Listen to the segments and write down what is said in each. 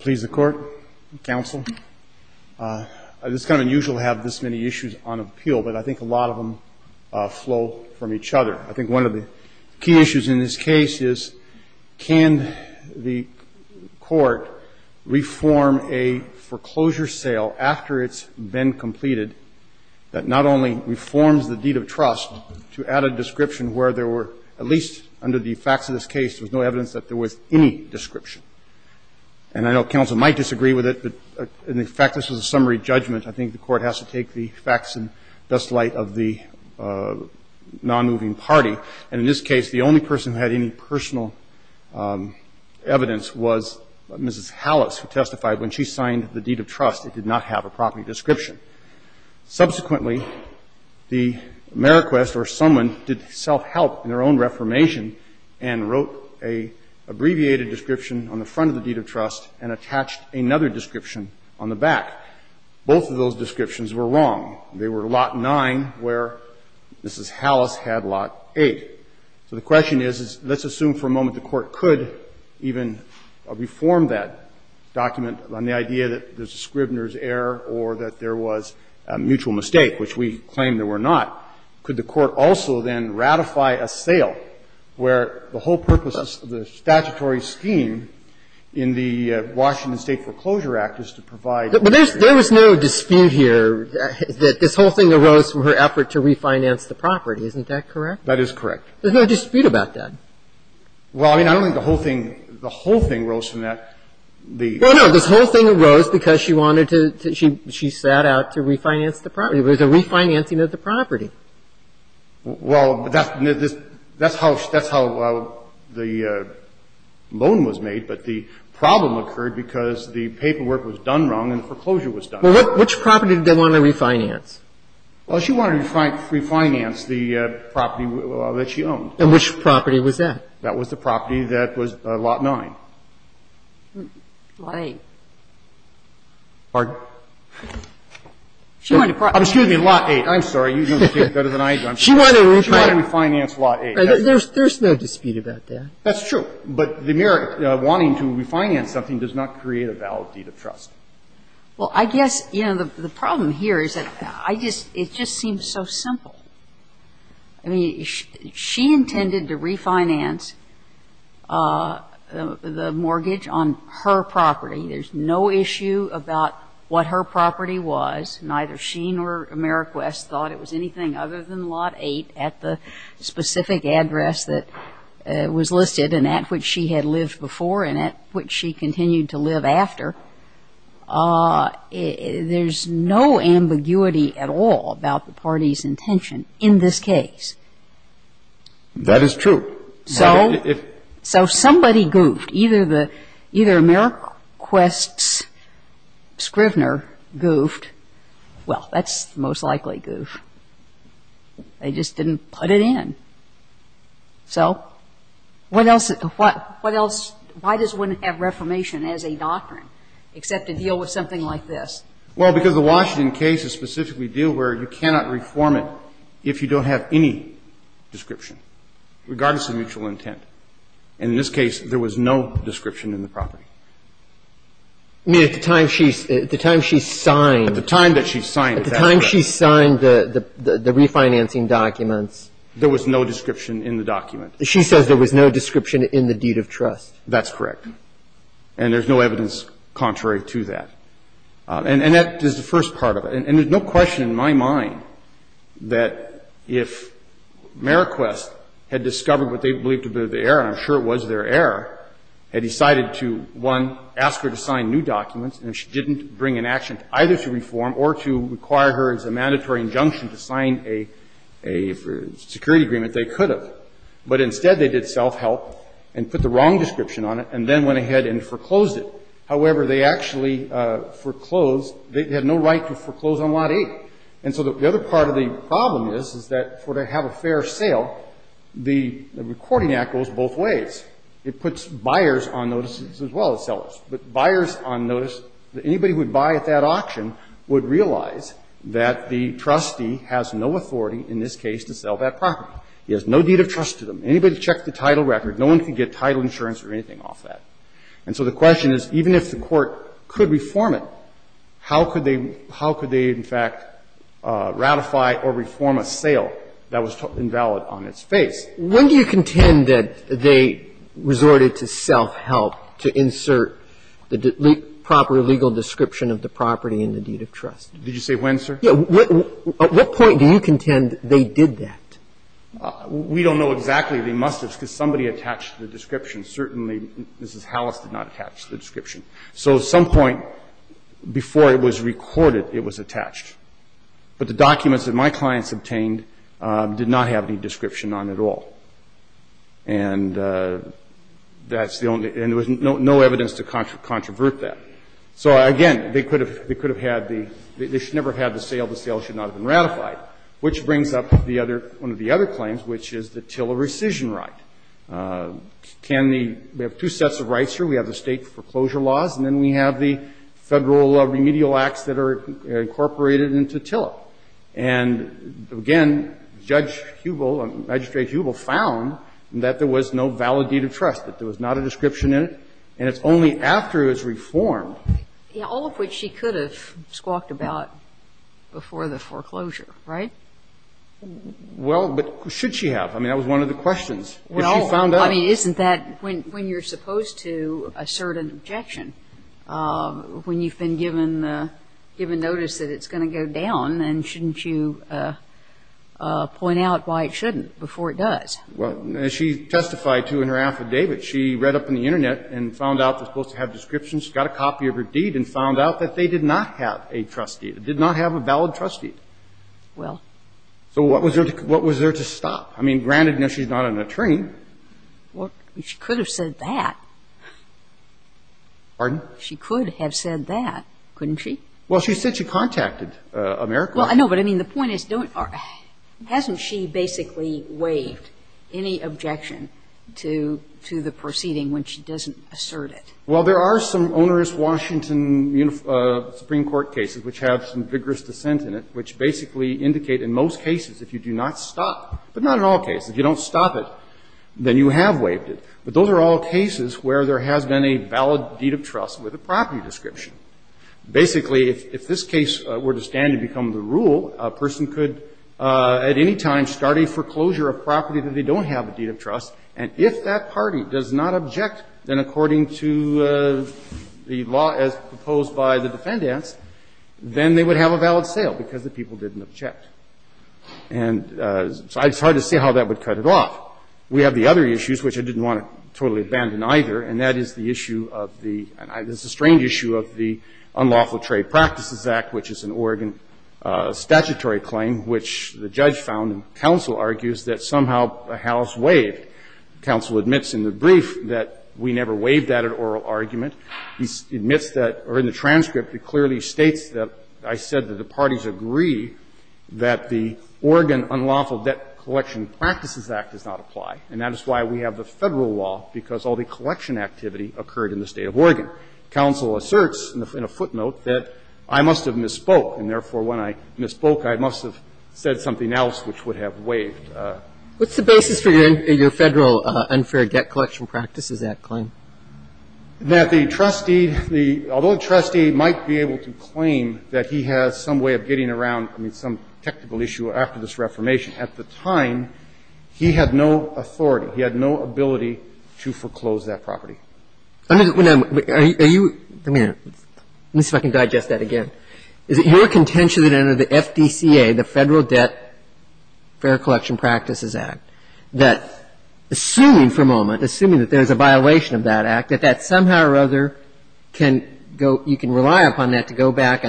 Please, the Court, Counsel, it's kind of unusual to have this many issues on appeal, but I think a lot of them flow from each other. I think one of the key issues in this case is can the Court reform a foreclosure sale after it's been completed that not only reforms the deed of trust to add a description where there were, at least under the facts of this case, there was no evidence that there was any description. And I know counsel might disagree with it, but in the fact this was a summary judgment, I think the Court has to take the facts in best light of the nonmoving party. And in this case, the only person who had any personal evidence was Mrs. Hallas, who testified when she signed the deed of trust. It did not have a property description. Subsequently, the Ameriquist or someone did self-help in their own reformation and wrote an abbreviated description on the front of the deed of trust and attached another description on the back. Both of those descriptions were wrong. They were Lot 9 where Mrs. Hallas had Lot 8. So the question is, let's assume for a moment the Court could even reform that document on the idea that there's a Scribner's error or that there was a mutual mistake, which we claim there were not. Could the Court also then ratify a sale where the whole purpose of the statutory scheme in the Washington State Foreclosure Act is to provide a sale? But there's no dispute here that this whole thing arose from her effort to refinance the property, isn't that correct? That is correct. There's no dispute about that. Well, I mean, I don't think the whole thing, the whole thing rose from that. Well, no. This whole thing arose because she wanted to, she sat out to refinance the property. It was a refinancing of the property. Well, that's how the loan was made, but the problem occurred because the paperwork was done wrong and the foreclosure was done right. Well, which property did they want to refinance? Well, she wanted to refinance the property that she owned. And which property was that? That was the property that was Lot 9. Lot 8. Pardon? She wanted to provide. Excuse me, Lot 8. I'm sorry. You don't get it better than I do. She wanted to refinance Lot 8. There's no dispute about that. That's true. But the mere wanting to refinance something does not create a valid deed of trust. Well, I guess, you know, the problem here is that I just, it just seems so simple. I mean, she intended to refinance the mortgage on her property. There's no issue about what her property was. Neither she nor Ameriquest thought it was anything other than Lot 8 at the specific address that was listed and at which she had lived before and at which she continued to live after. There's no ambiguity at all about the party's intention in this case. That is true. So somebody goofed. Either Ameriquest's scrivener goofed. Well, that's the most likely goof. They just didn't put it in. So what else, why does one have reformation as a doctrine except to deal with something like this? Well, because the Washington case is specifically a deal where you cannot reform it if you don't have any description, regardless of mutual intent. And in this case, there was no description in the property. I mean, at the time she signed. At the time that she signed. At the time she signed the refinancing documents. There was no description in the document. She says there was no description in the deed of trust. That's correct. And there's no evidence contrary to that. And that is the first part of it. And there's no question in my mind that if Ameriquest had discovered what they believed to be the error, and I'm sure it was their error, had decided to, one, ask her to sign new documents, and she didn't bring an action either to reform or to require her as a mandatory injunction to sign a security agreement, they could have. But instead, they did self-help and put the wrong description on it, and then went ahead and foreclosed it. However, they actually foreclosed. They had no right to foreclose on Lot 8. And so the other part of the problem is, is that for it to have a fair sale, the Recording Act goes both ways. It puts buyers on notice as well as sellers. But buyers on notice, anybody who would buy at that auction would realize that the trustee has no authority in this case to sell that property. He has no deed of trust to them. Anybody who checks the title record, no one can get title insurance or anything off that. And so the question is, even if the Court could reform it, how could they – how could they, in fact, ratify or reform a sale that was invalid on its face? Roberts, when do you contend that they resorted to self-help to insert the proper legal description of the property in the deed of trust? Did you say when, sir? Yeah. At what point do you contend they did that? We don't know exactly. They must have, because somebody attached the description. Certainly, Mrs. Hallis did not attach the description. So at some point before it was recorded, it was attached. But the documents that my clients obtained did not have any description on it at all. And that's the only – and there was no evidence to controvert that. So, again, they could have – they could have had the – they should never have had the sale. The sale should not have been ratified, which brings up the other – one of the other claims, which is the Tiller rescission right. Can the – we have two sets of rights here. We have the State foreclosure laws, and then we have the Federal remedial acts that are incorporated into Tiller. And, again, Judge Hubel, Magistrate Hubel found that there was no valid deed of trust, that there was not a description in it, and it's only after it was reformed. Yeah. All of which she could have squawked about before the foreclosure, right? Well, but should she have? I mean, that was one of the questions. Well, I mean, isn't that when you're supposed to assert an objection, when you've given notice that it's going to go down, and shouldn't you point out why it shouldn't before it does? Well, as she testified to in her affidavit, she read up on the Internet and found out they're supposed to have descriptions. She got a copy of her deed and found out that they did not have a trust deed. It did not have a valid trust deed. Well. So what was her – what was there to stop? I mean, granted, you know, she's not an attorney. Well, she could have said that. Pardon? She could have said that, couldn't she? Well, she said she contacted AmeriCorps. Well, I know, but I mean, the point is, don't – hasn't she basically waived any objection to the proceeding when she doesn't assert it? Well, there are some onerous Washington Supreme Court cases which have some vigorous dissent in it, which basically indicate in most cases if you do not stop – but not in all cases. If you don't stop it, then you have waived it. But those are all cases where there has been a valid deed of trust with a property description. Basically, if this case were to stand and become the rule, a person could at any time start a foreclosure of property that they don't have a deed of trust, and if that party does not object, then according to the law as proposed by the defendants, then they would have a valid sale because the people didn't object. And so it's hard to see how that would cut it off. We have the other issues, which I didn't want to totally abandon either, and that is the issue of the – and this is a strange issue of the Unlawful Trade Practices Act, which is an Oregon statutory claim which the judge found and counsel argues that somehow the House waived. Counsel admits in the brief that we never waived that at oral argument. He admits that – or in the transcript, it clearly states that I said that the parties agree that the Oregon Unlawful Debt Collection Practices Act does not apply, and that is why we have the Federal law, because all the collection activity occurred in the State of Oregon. Counsel asserts in a footnote that I must have misspoke, and therefore when I misspoke, I must have said something else which would have waived. What's the basis for your Federal Unfair Debt Collection Practices Act claim? That the trustee, the – although the trustee might be able to claim that he has some way of getting around, I mean, some technical issue after this Reformation, at the time, he had no authority. He had no ability to foreclose that property. I mean, are you – let me see if I can digest that again. Is it your contention that under the FDCA, the Federal Debt Fair Collection Practices Act, that assuming for a moment, assuming that there's a violation of that act, that that somehow or other can go – you can rely upon that to go back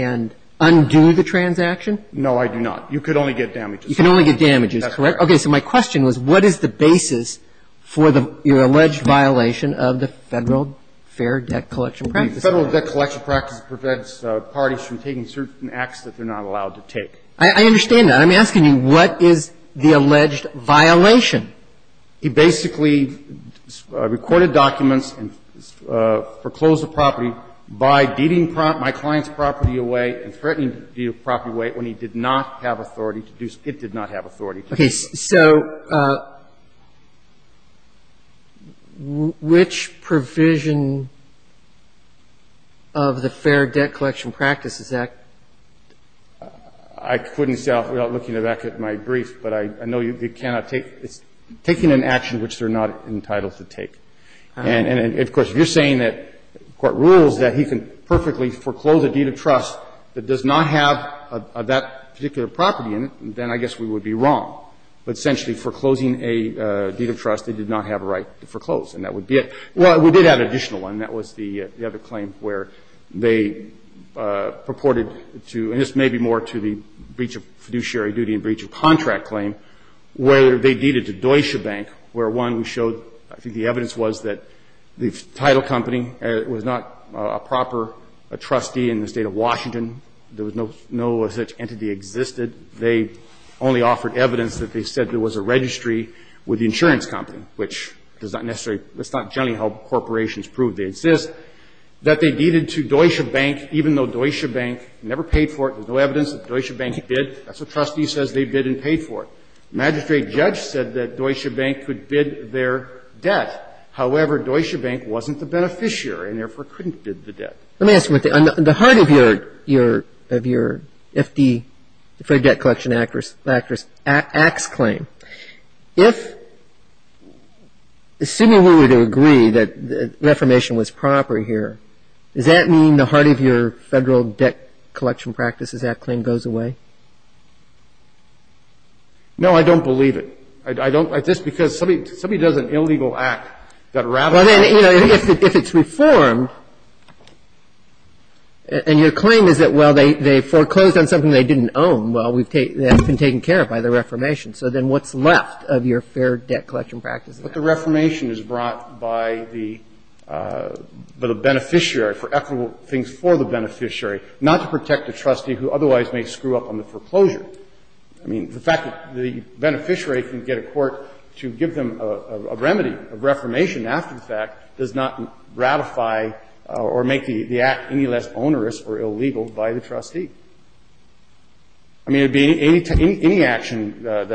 and undo the transaction? No, I do not. You could only get damages. You can only get damages, correct? That's correct. Okay. So my question was what is the basis for the – your alleged violation of the Federal Fair Debt Collection Practices Act? The Federal Debt Collection Practices prevents parties from taking certain acts that they're not allowed to take. I understand that. But I'm asking you, what is the alleged violation? He basically recorded documents and foreclosed the property by deeding my client's property away and threatening to deed the property away when he did not have authority to do so. It did not have authority to do so. Okay. So which provision of the Fair Debt Collection Practices Act? I couldn't say without looking back at my brief, but I know you cannot take – it's taking an action which they're not entitled to take. And, of course, if you're saying that the Court rules that he can perfectly foreclose a deed of trust that does not have that particular property in it, then I guess we would be wrong. But essentially foreclosing a deed of trust, they did not have a right to foreclose, and that would be it. Well, we did have an additional one. And that was the other claim where they purported to – and this may be more to the breach of fiduciary duty and breach of contract claim – where they deeded to Deutsche Bank, where, one, we showed – I think the evidence was that the title company was not a proper trustee in the State of Washington. There was no such entity existed. They only offered evidence that they said there was a registry with the insurance company, which does not necessarily – that's not generally how corporations prove, they insist – that they deeded to Deutsche Bank, even though Deutsche Bank never paid for it. There's no evidence that Deutsche Bank bid. That's what trustee says they bid and paid for it. The magistrate judge said that Deutsche Bank could bid their debt. However, Deutsche Bank wasn't the beneficiary and, therefore, couldn't bid the debt. Let me ask you one thing. On the heart of your – of your FD – the Federal Debt Collection Act's claim, assuming we were to agree that reformation was proper here, does that mean the heart of your Federal Debt Collection Practices Act claim goes away? No, I don't believe it. I don't – just because somebody – somebody does an illegal act, you've got to ratify it. Well, then, you know, if it's reformed and your claim is that, well, they – they foreclosed on something they didn't own, well, we've taken – that's been taken care of by the reformation. So then what's left of your Fair Debt Collection Practices Act? But the reformation is brought by the – by the beneficiary for equitable things for the beneficiary, not to protect the trustee who otherwise may screw up on the foreclosure. I mean, the fact that the beneficiary can get a court to give them a remedy of reformation after the fact does not ratify or make the act any less onerous or illegal by the trustee. I mean, it would be any – any action that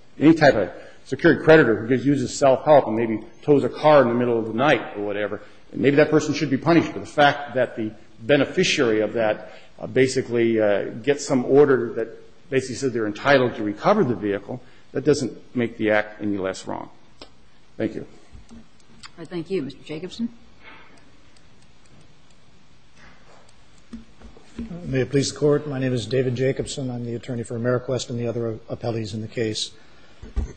– any type of security creditor who uses self-help and maybe tows a car in the middle of the night or whatever, maybe that person should be punished. But the fact that the beneficiary of that basically gets some order that basically says they're entitled to recover the vehicle, that doesn't make the act any less wrong. Thank you. I thank you. Mr. Jacobson. May it please the Court. My name is David Jacobson. I'm the attorney for Ameriquest and the other appellees in the case.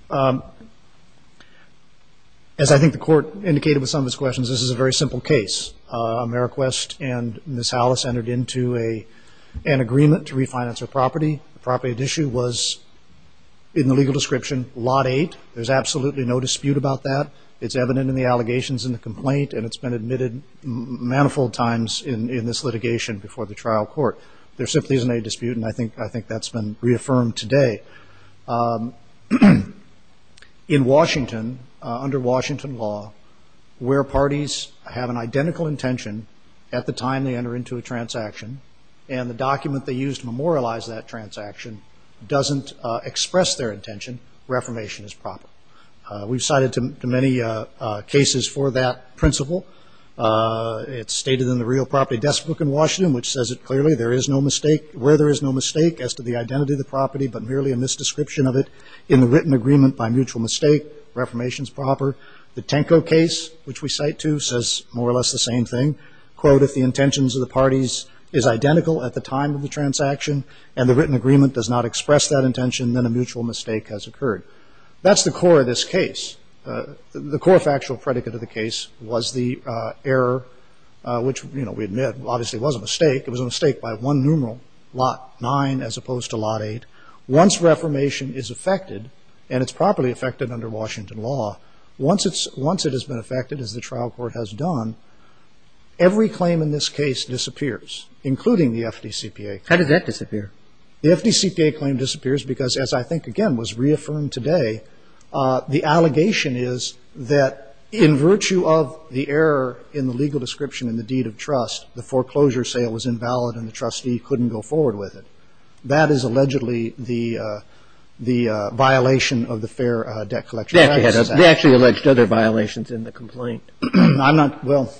As I think the Court indicated with some of its questions, this is a very simple case. Ameriquest and Ms. Hallis entered into a – an agreement to refinance her property. The property at issue was, in the legal description, Lot 8. There's absolutely no dispute about that. It's evident in the allegations in the complaint and it's been admitted manifold times in – in this litigation before the trial court. There simply isn't any dispute and I think – I think that's been reaffirmed today. In Washington, under Washington law, where parties have an identical intention at the time they enter into a transaction and the document they use to memorialize that transaction doesn't express their intention, reformation is proper. We've cited to – to many cases for that principle. It's stated in the Real Property Deskbook in Washington, which says it clearly, there is no mistake – where there is no mistake as to the identity of the property but merely a misdescription of it in the written agreement by mutual mistake, reformation is proper. The Tenko case, which we cite too, says more or less the same thing. Quote, if the intentions of the parties is identical at the time of the transaction and the written agreement does not express that intention, then a mutual mistake has occurred. That's the core of this case. The core factual predicate of the case was the error, which, you know, we admit obviously was a mistake. It was a mistake by one numeral, Lot 9 as opposed to Lot 8. Once reformation is effected, and it's properly effected under Washington law, once it's – once it has been effected as the trial court has done, every claim in this case disappears, including the FDCPA. How does that disappear? The FDCPA claim disappears because, as I think, again, was reaffirmed today, the allegation is that in virtue of the error in the legal description and the deed of trust, the foreclosure sale was invalid and the trustee couldn't go forward with it. That is allegedly the violation of the fair debt collection practice. They actually alleged other violations in the complaint. I'm not – well,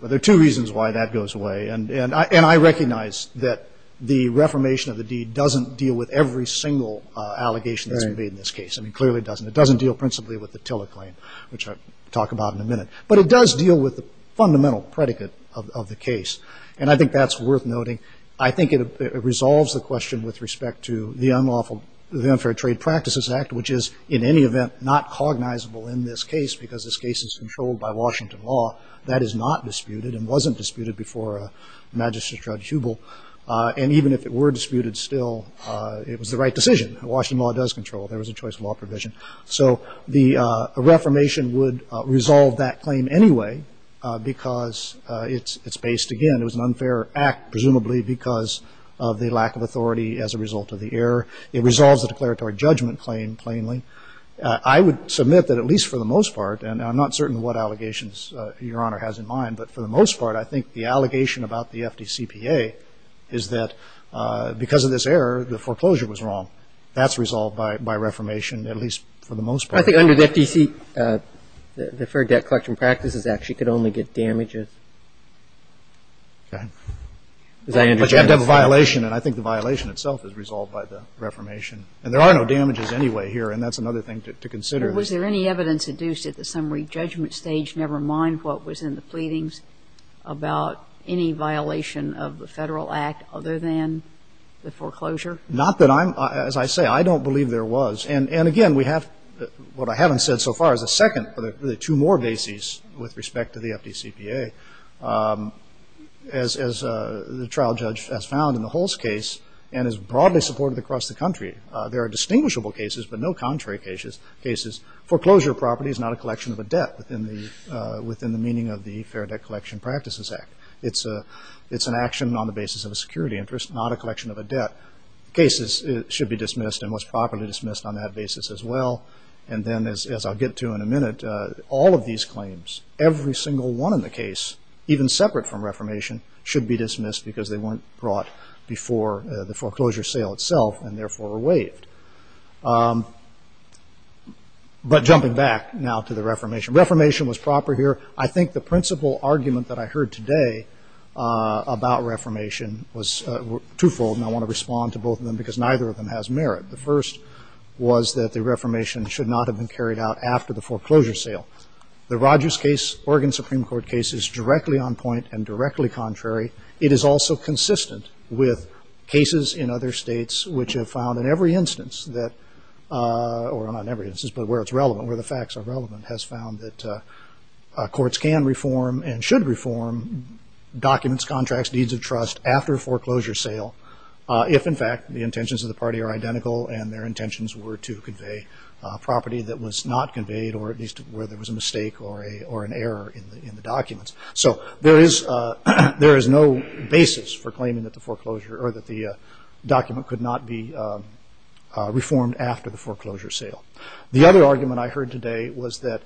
there are two reasons why that goes away. And I recognize that the reformation of the deed doesn't deal with every single allegation that's made in this case. I mean, clearly it doesn't. It doesn't deal principally with the TILA claim, which I'll talk about in a minute. But it does deal with the fundamental predicate of the case, and I think that's worth noting. I think it resolves the question with respect to the Unlawful – the Unfair Trade Practices Act, which is, in any event, not cognizable in this case because this case is controlled by Washington law. That is not disputed and wasn't disputed before Magistrate Judge Hubel. And even if it were disputed still, it was the right decision. Washington law does control. There was a choice law provision. So the reformation would resolve that claim anyway because it's based, again, it was an unfair act presumably because of the lack of authority as a result of the error. It resolves the declaratory judgment claim plainly. I would submit that at least for the most part, and I'm not certain what allegations Your Honor has in mind, but for the most part, I think the allegation about the FDCPA is that because of this error, the foreclosure was wrong. That's resolved by reformation, at least for the most part. I think under the FDC, the Deferred Debt Collection Practices Act, you could only get damages. Okay. But you have to have a violation, and I think the violation itself is resolved by the reformation. And there are no damages anyway here, and that's another thing to consider. But was there any evidence adduced at the summary judgment stage, never mind what was in the pleadings, about any violation of the Federal Act other than the foreclosure? Not that I'm, as I say, I don't believe there was. And again, we have, what I haven't said so far is the second, or the two more bases with respect to the FDCPA, as the trial judge has found in the Hulse case and is broadly supported across the country. There are distinguishable cases, but no contrary cases. Foreclosure property is not a collection of a debt within the meaning of the Fair Debt Collection Practices Act. It's an action on the basis of a security interest, not a collection of a debt. Cases should be dismissed and was properly dismissed on that basis as well. And then, as I'll get to in a minute, all of these claims, every single one in the case, even separate from reformation, should be dismissed because they weren't brought before the foreclosure sale itself and therefore were waived. But jumping back now to the reformation, reformation was proper here. I think the principal argument that I heard today about reformation was twofold, and I want to respond to both of them because neither of them has merit. The first was that the reformation should not have been carried out after the foreclosure sale. The Rogers case, Oregon Supreme Court case, is directly on point and directly contrary. It is also consistent with cases in other states which have found in every instance that, or not in every instance, but where it's relevant, where the facts are relevant, has found that courts can reform and should reform documents, contracts, deeds of trust after a foreclosure sale if, in fact, the intentions of the party are identical and their intentions were to convey property that was not conveyed or at least where there was a mistake or an error in the documents. So there is no basis for claiming that the document could not be reformed after the foreclosure sale. The other argument I heard today was that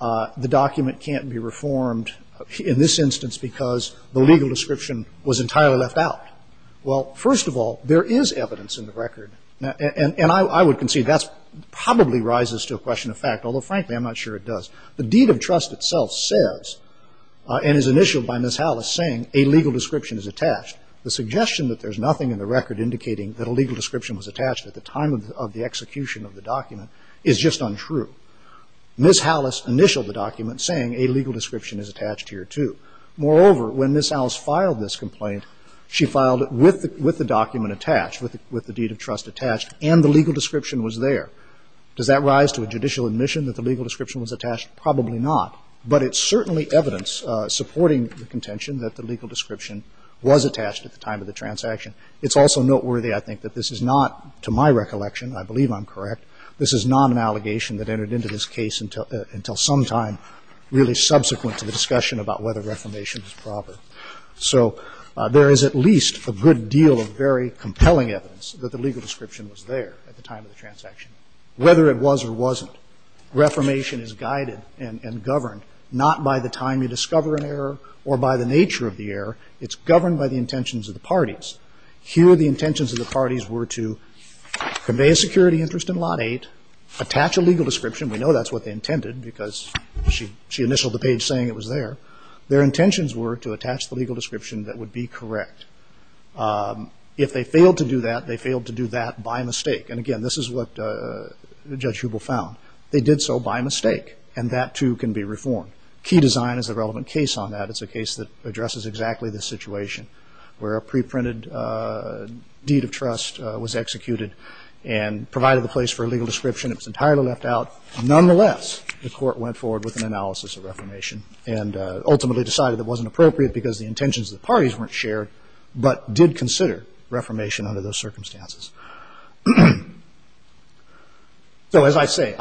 the document can't be reformed in this instance because the legal description was entirely left out. Well, first of all, there is evidence in the record, and I would concede that probably rises to a question of fact, although, frankly, I'm not sure it does. The deed of trust itself says, and is initialed by Ms. Hallis, saying a legal description is attached. The suggestion that there's nothing in the record indicating that a legal description was attached at the time of the execution of the document is just untrue. Ms. Hallis initialed the document saying a legal description is attached here, too. Moreover, when Ms. Hallis filed this complaint, she filed it with the document attached, with the deed of trust attached, and the legal description was there. Does that rise to a judicial admission that the legal description was attached? Probably not. But it's certainly evidence supporting the contention that the legal description was attached at the time of the transaction. It's also noteworthy, I think, that this is not, to my recollection, I believe I'm correct, this is not an allegation that entered into this case until sometime really subsequent to the discussion about whether reformation is proper. So there is at least a good deal of very compelling evidence that the legal description was there at the time of the transaction. Whether it was or wasn't, reformation is guided and governed not by the time you discover an error or by the nature of the error. It's governed by the intentions of the parties. Here the intentions of the parties were to convey a security interest in Lot 8, attach a legal description. We know that's what they intended because she initialed the page saying it was there. Their intentions were to attach the legal description that would be correct. If they failed to do that, they failed to do that by mistake. And again, this is what Judge Hubel found. They did so by mistake. And that, too, can be reformed. Key design is a relevant case on that. It's a case that addresses exactly this situation where a preprinted deed of trust was executed and provided the place for a legal description. It was entirely left out. Nonetheless, the court went forward with an analysis of reformation and ultimately decided it wasn't appropriate because the intentions of the parties weren't shared but did consider reformation under those circumstances. So as I say,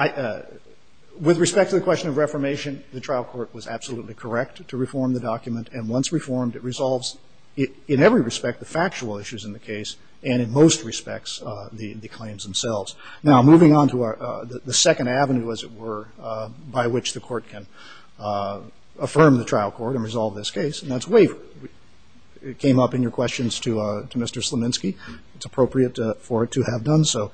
with respect to the question of reformation, the trial court was absolutely correct to reform the document. And once reformed, it resolves in every respect the factual issues in the case and in most respects the claims themselves. Now, moving on to the second avenue, as it were, by which the court can affirm the claim and resolve this case, and that's waiver. It came up in your questions to Mr. Slominski. It's appropriate for it to have done so.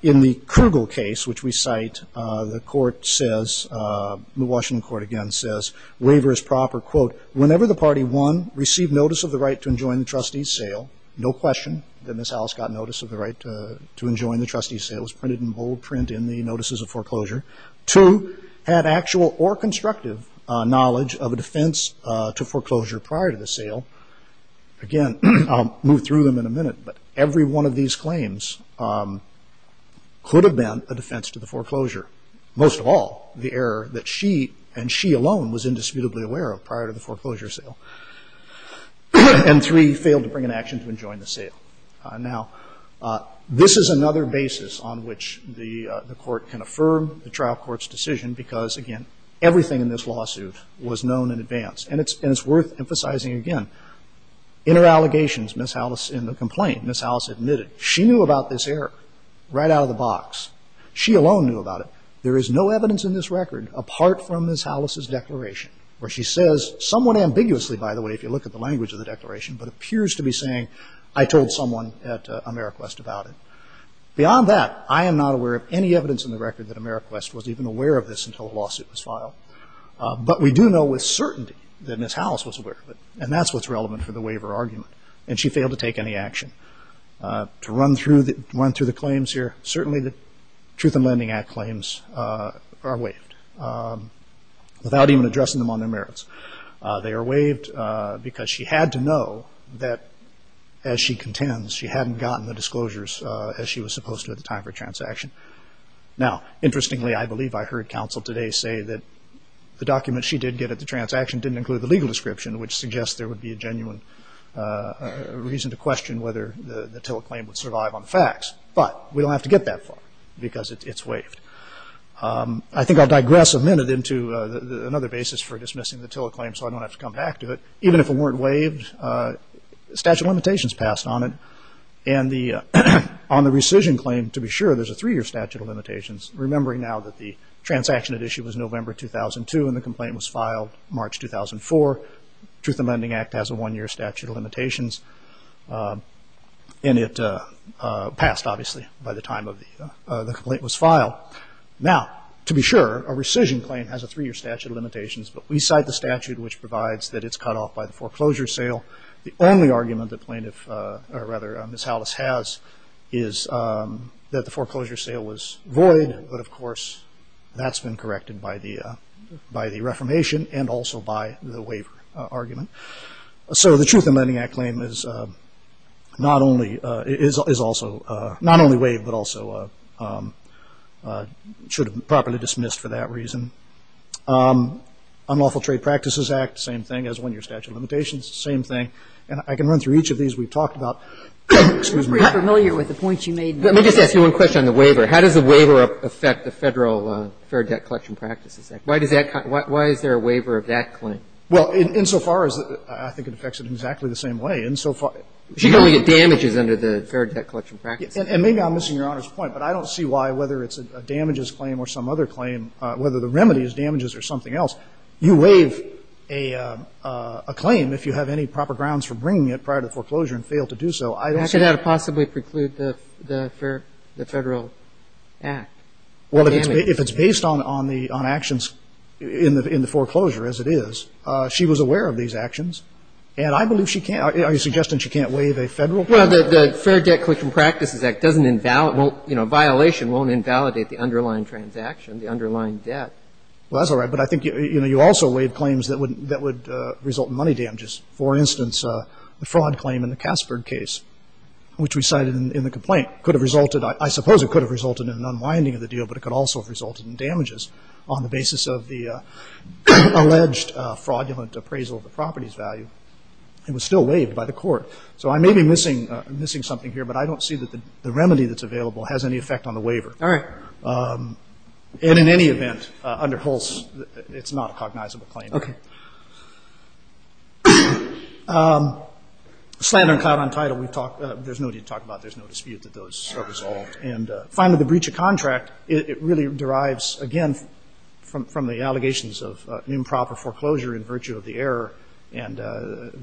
In the Krugel case, which we cite, the court says, the Washington court again says, waiver is proper, quote, whenever the party, one, received notice of the right to enjoin the trustee's sale, no question that Ms. Alice got notice of the right to enjoin the trustee's sale. It was printed in bold print in the notices of foreclosure. Two, had actual or constructive knowledge of a defense to foreclosure prior to the sale. Again, I'll move through them in a minute, but every one of these claims could have been a defense to the foreclosure. Most of all, the error that she and she alone was indisputably aware of prior to the foreclosure sale. And three, failed to bring an action to enjoin the sale. Now, this is another basis on which the court can affirm the trial court's decision because, again, everything in this lawsuit was known in advance. And it's worth emphasizing again, inner allegations, Ms. Alice in the complaint, Ms. Alice admitted. She knew about this error right out of the box. She alone knew about it. There is no evidence in this record apart from Ms. Alice's declaration where she says, somewhat ambiguously, by the way, if you look at the language of the declaration, but appears to be saying, I told someone at AmeriQuest about it. Beyond that, I am not aware of any evidence in the record that AmeriQuest was even aware of this until the lawsuit was filed. But we do know with certainty that Ms. Alice was aware of it, and that's what's relevant for the waiver argument, and she failed to take any action. To run through the claims here, certainly the Truth in Lending Act claims are waived without even addressing them on their merits. They are waived because she had to know that, as she contends, she hadn't gotten the disclosures as she was supposed to at the time of her transaction. Now, interestingly, I believe I heard counsel today say that the documents she did get at the transaction didn't include the legal description, which suggests there would be a genuine reason to question whether the TILA claim would survive on the facts. But we don't have to get that far because it's waived. I think I'll digress a minute into another basis for dismissing the TILA claim so I don't have to come back to it. Even if it weren't waived, statute of limitations passed on it. And on the rescission claim, to be sure, there's a three-year statute of limitations, remembering now that the transaction at issue was November 2002 and the complaint was filed March 2004. Truth in Lending Act has a one-year statute of limitations, and it passed, obviously, by the time the complaint was filed. Now, to be sure, a rescission claim has a three-year statute of limitations, but we cite the statute, which provides that it's cut off by the foreclosure sale. The only argument that plaintiff, or rather Ms. Howlis, has is that the foreclosure sale was void, but of course that's been corrected by the Reformation and also by the waiver argument. So the Truth in Lending Act claim is not only – is also – not only waived, but also should have been properly dismissed for that reason. Unlawful Trade Practices Act, same thing as one-year statute of limitations, same thing. And I can run through each of these. We've talked about – excuse me. I'm pretty familiar with the points you made there. Let me just ask you one question on the waiver. How does the waiver affect the Federal Fair Debt Collection Practices Act? Why does that – why is there a waiver of that claim? Well, in so far as – I think it affects it in exactly the same way. In so far – You can only get damages under the Fair Debt Collection Practices Act. And maybe I'm missing Your Honor's point, but I don't see why, whether it's a damages claim or some other claim, whether the remedy is damages or something else. You waive a claim if you have any proper grounds for bringing it prior to foreclosure and fail to do so. How could that possibly preclude the Federal Act? Well, if it's based on actions in the foreclosure, as it is. She was aware of these actions. And I believe she can't – are you suggesting she can't waive a Federal claim? Well, the Fair Debt Collection Practices Act doesn't – you know, a violation won't invalidate the underlying transaction, the underlying debt. Well, that's all right. But I think, you know, you also waived claims that would result in money damages. For instance, the fraud claim in the Casper case, which we cited in the complaint, could have resulted – I suppose it could have resulted in an unwinding of the deal, but it could also have resulted in damages on the basis of the alleged fraudulent appraisal of the property's value. It was still waived by the court. So I may be missing something here, but I don't see that the remedy that's available has any effect on the waiver. All right. And in any event, under Hulse, it's not a cognizable claim. Okay. Slander and clout on title, we've talked – there's no need to talk about it. There's no dispute that those are resolved. And finally, the breach of contract, it really derives, again, from the allegations of improper foreclosure in virtue of the error. And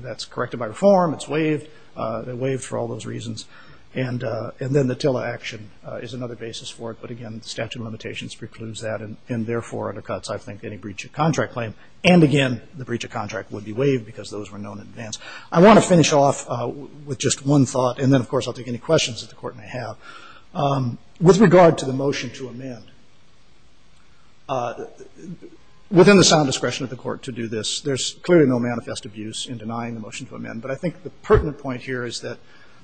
that's corrected by reform. It's waived. It waived for all those reasons. And then the TILA action is another basis for it. But, again, the statute of limitations precludes that, and therefore under cuts I think any breach of contract claim. And, again, the breach of contract would be waived because those were known in advance. I want to finish off with just one thought, and then, of course, I'll take any questions that the Court may have, with regard to the motion to amend. Within the sound discretion of the Court to do this, there's clearly no manifest abuse in denying the motion to amend. But I think the pertinent point here is that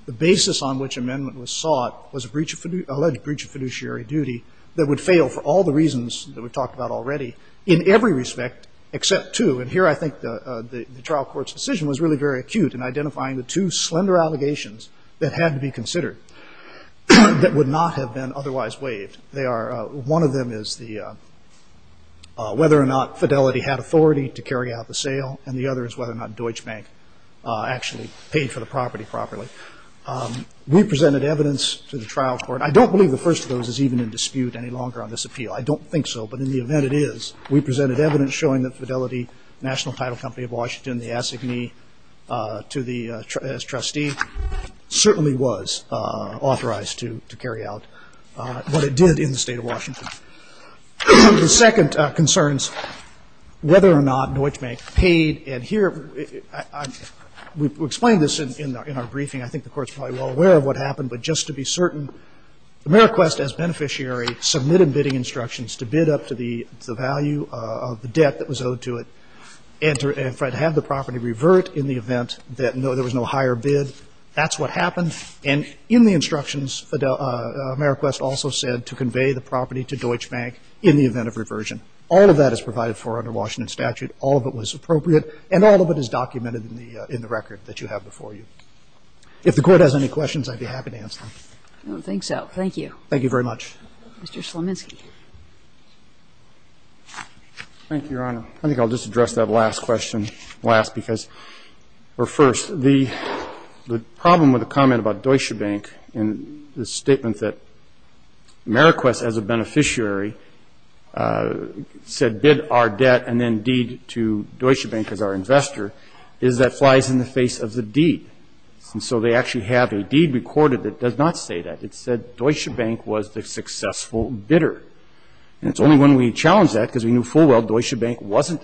the basis on which amendment was sought was alleged breach of fiduciary duty that would fail for all the reasons that we've talked about already in every respect except two. And here I think the trial court's decision was really very acute in identifying the two slender allegations that had to be considered that would not have been otherwise waived. They are one of them is the whether or not Fidelity had authority to carry out the sale, and the other is whether or not Deutsche Bank actually paid for the property properly. We presented evidence to the trial court. I don't believe the first of those is even in dispute any longer on this appeal. I don't think so, but in the event it is, we presented evidence showing that Fidelity, the national title company of Washington, the assignee to the as trustee, certainly was authorized to carry out what it did in the State of Washington. The second concerns whether or not Deutsche Bank paid. And here, we explained this in our briefing. I think the Court's probably well aware of what happened, but just to be certain, Ameriquest as beneficiary submitted bidding instructions to bid up to the value of the debt that was owed to it, and to have the property revert in the event that there was no higher bid. That's what happened. And in the instructions, Ameriquest also said to convey the property to Deutsche Bank in the event of reversion. All of that is provided for under Washington statute. All of it was appropriate, and all of it is documented in the record that you have before you. If the Court has any questions, I'd be happy to answer them. I don't think so. Thank you. Thank you very much. Mr. Slominski. Thank you, Your Honor. I think I'll just address that last question last because or first. The problem with the comment about Deutsche Bank and the statement that Ameriquest as a beneficiary said bid our debt and then deed to Deutsche Bank as our investor is that flies in the face of the deed. And so they actually have a deed recorded that does not say that. It said Deutsche Bank was the successful bidder. And it's only when we challenge that, because we knew full well Deutsche Bank wasn't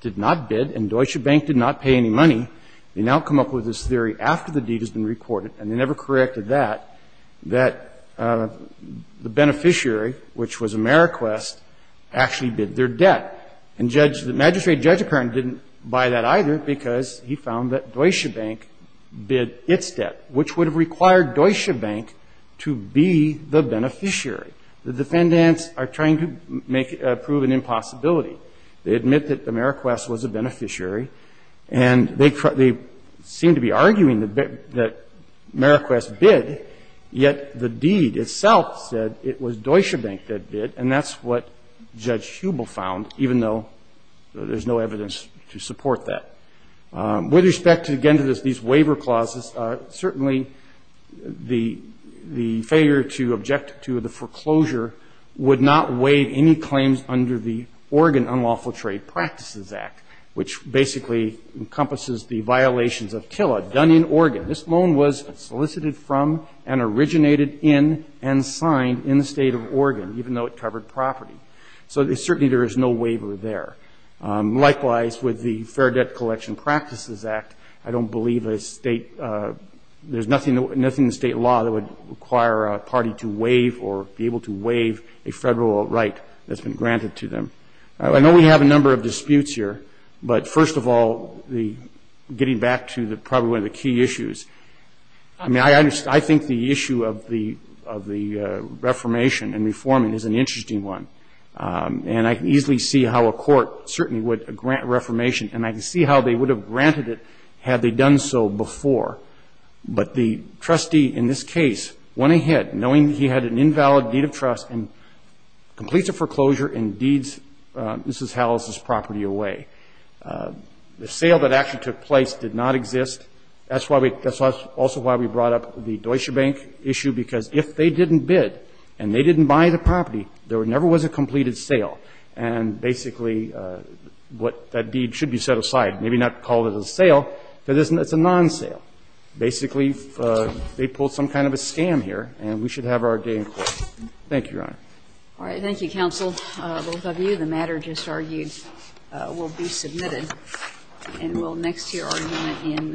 did not bid and Deutsche Bank did not pay any money, they now come up with this theory after the deed has been recorded, and they never corrected that, that the beneficiary, which was Ameriquest, actually bid their debt. And Judge the Magistrate Judge Apparent didn't buy that either because he found that Deutsche Bank bid its debt, which would have required Deutsche Bank to be the beneficiary. The defendants are trying to make a proven impossibility. They admit that Ameriquest was a beneficiary, and they seem to be arguing that Ameriquest bid, yet the deed itself said it was Deutsche Bank that bid, and that's what Judge Hubel found, even though there's no evidence to support that. With respect, again, to these waiver clauses, certainly the failure to object to the foreclosure would not waive any claims under the Oregon Unlawful Trade Practices Act, which basically encompasses the violations of TILA done in Oregon. This loan was solicited from and originated in and signed in the state of Oregon, even though it covered property. So certainly there is no waiver there. Likewise, with the Fair Debt Collection Practices Act, I don't believe there's nothing in state law that would require a party to waive or be able to waive a federal right that's been granted to them. I know we have a number of disputes here, but first of all, getting back to probably one of the key issues, I think the issue of the reformation and reforming is an interesting one. And I can easily see how a court certainly would grant reformation, and I can see how they would have granted it had they done so before. But the trustee in this case went ahead, knowing he had an invalid deed of trust, and completes a foreclosure and deeds Mrs. Hallis' property away. The sale that actually took place did not exist. That's also why we brought up the Deutsche Bank issue, because if they didn't bid and they didn't buy the property, there never was a completed sale. And basically, what that deed should be set aside. Maybe not call it a sale, but it's a non-sale. Basically, they pulled some kind of a scam here, and we should have our day in court. Thank you, Your Honor. All right. Thank you, counsel. Both of you, the matter just argued will be submitted. And we'll next hear argument in Kiefer.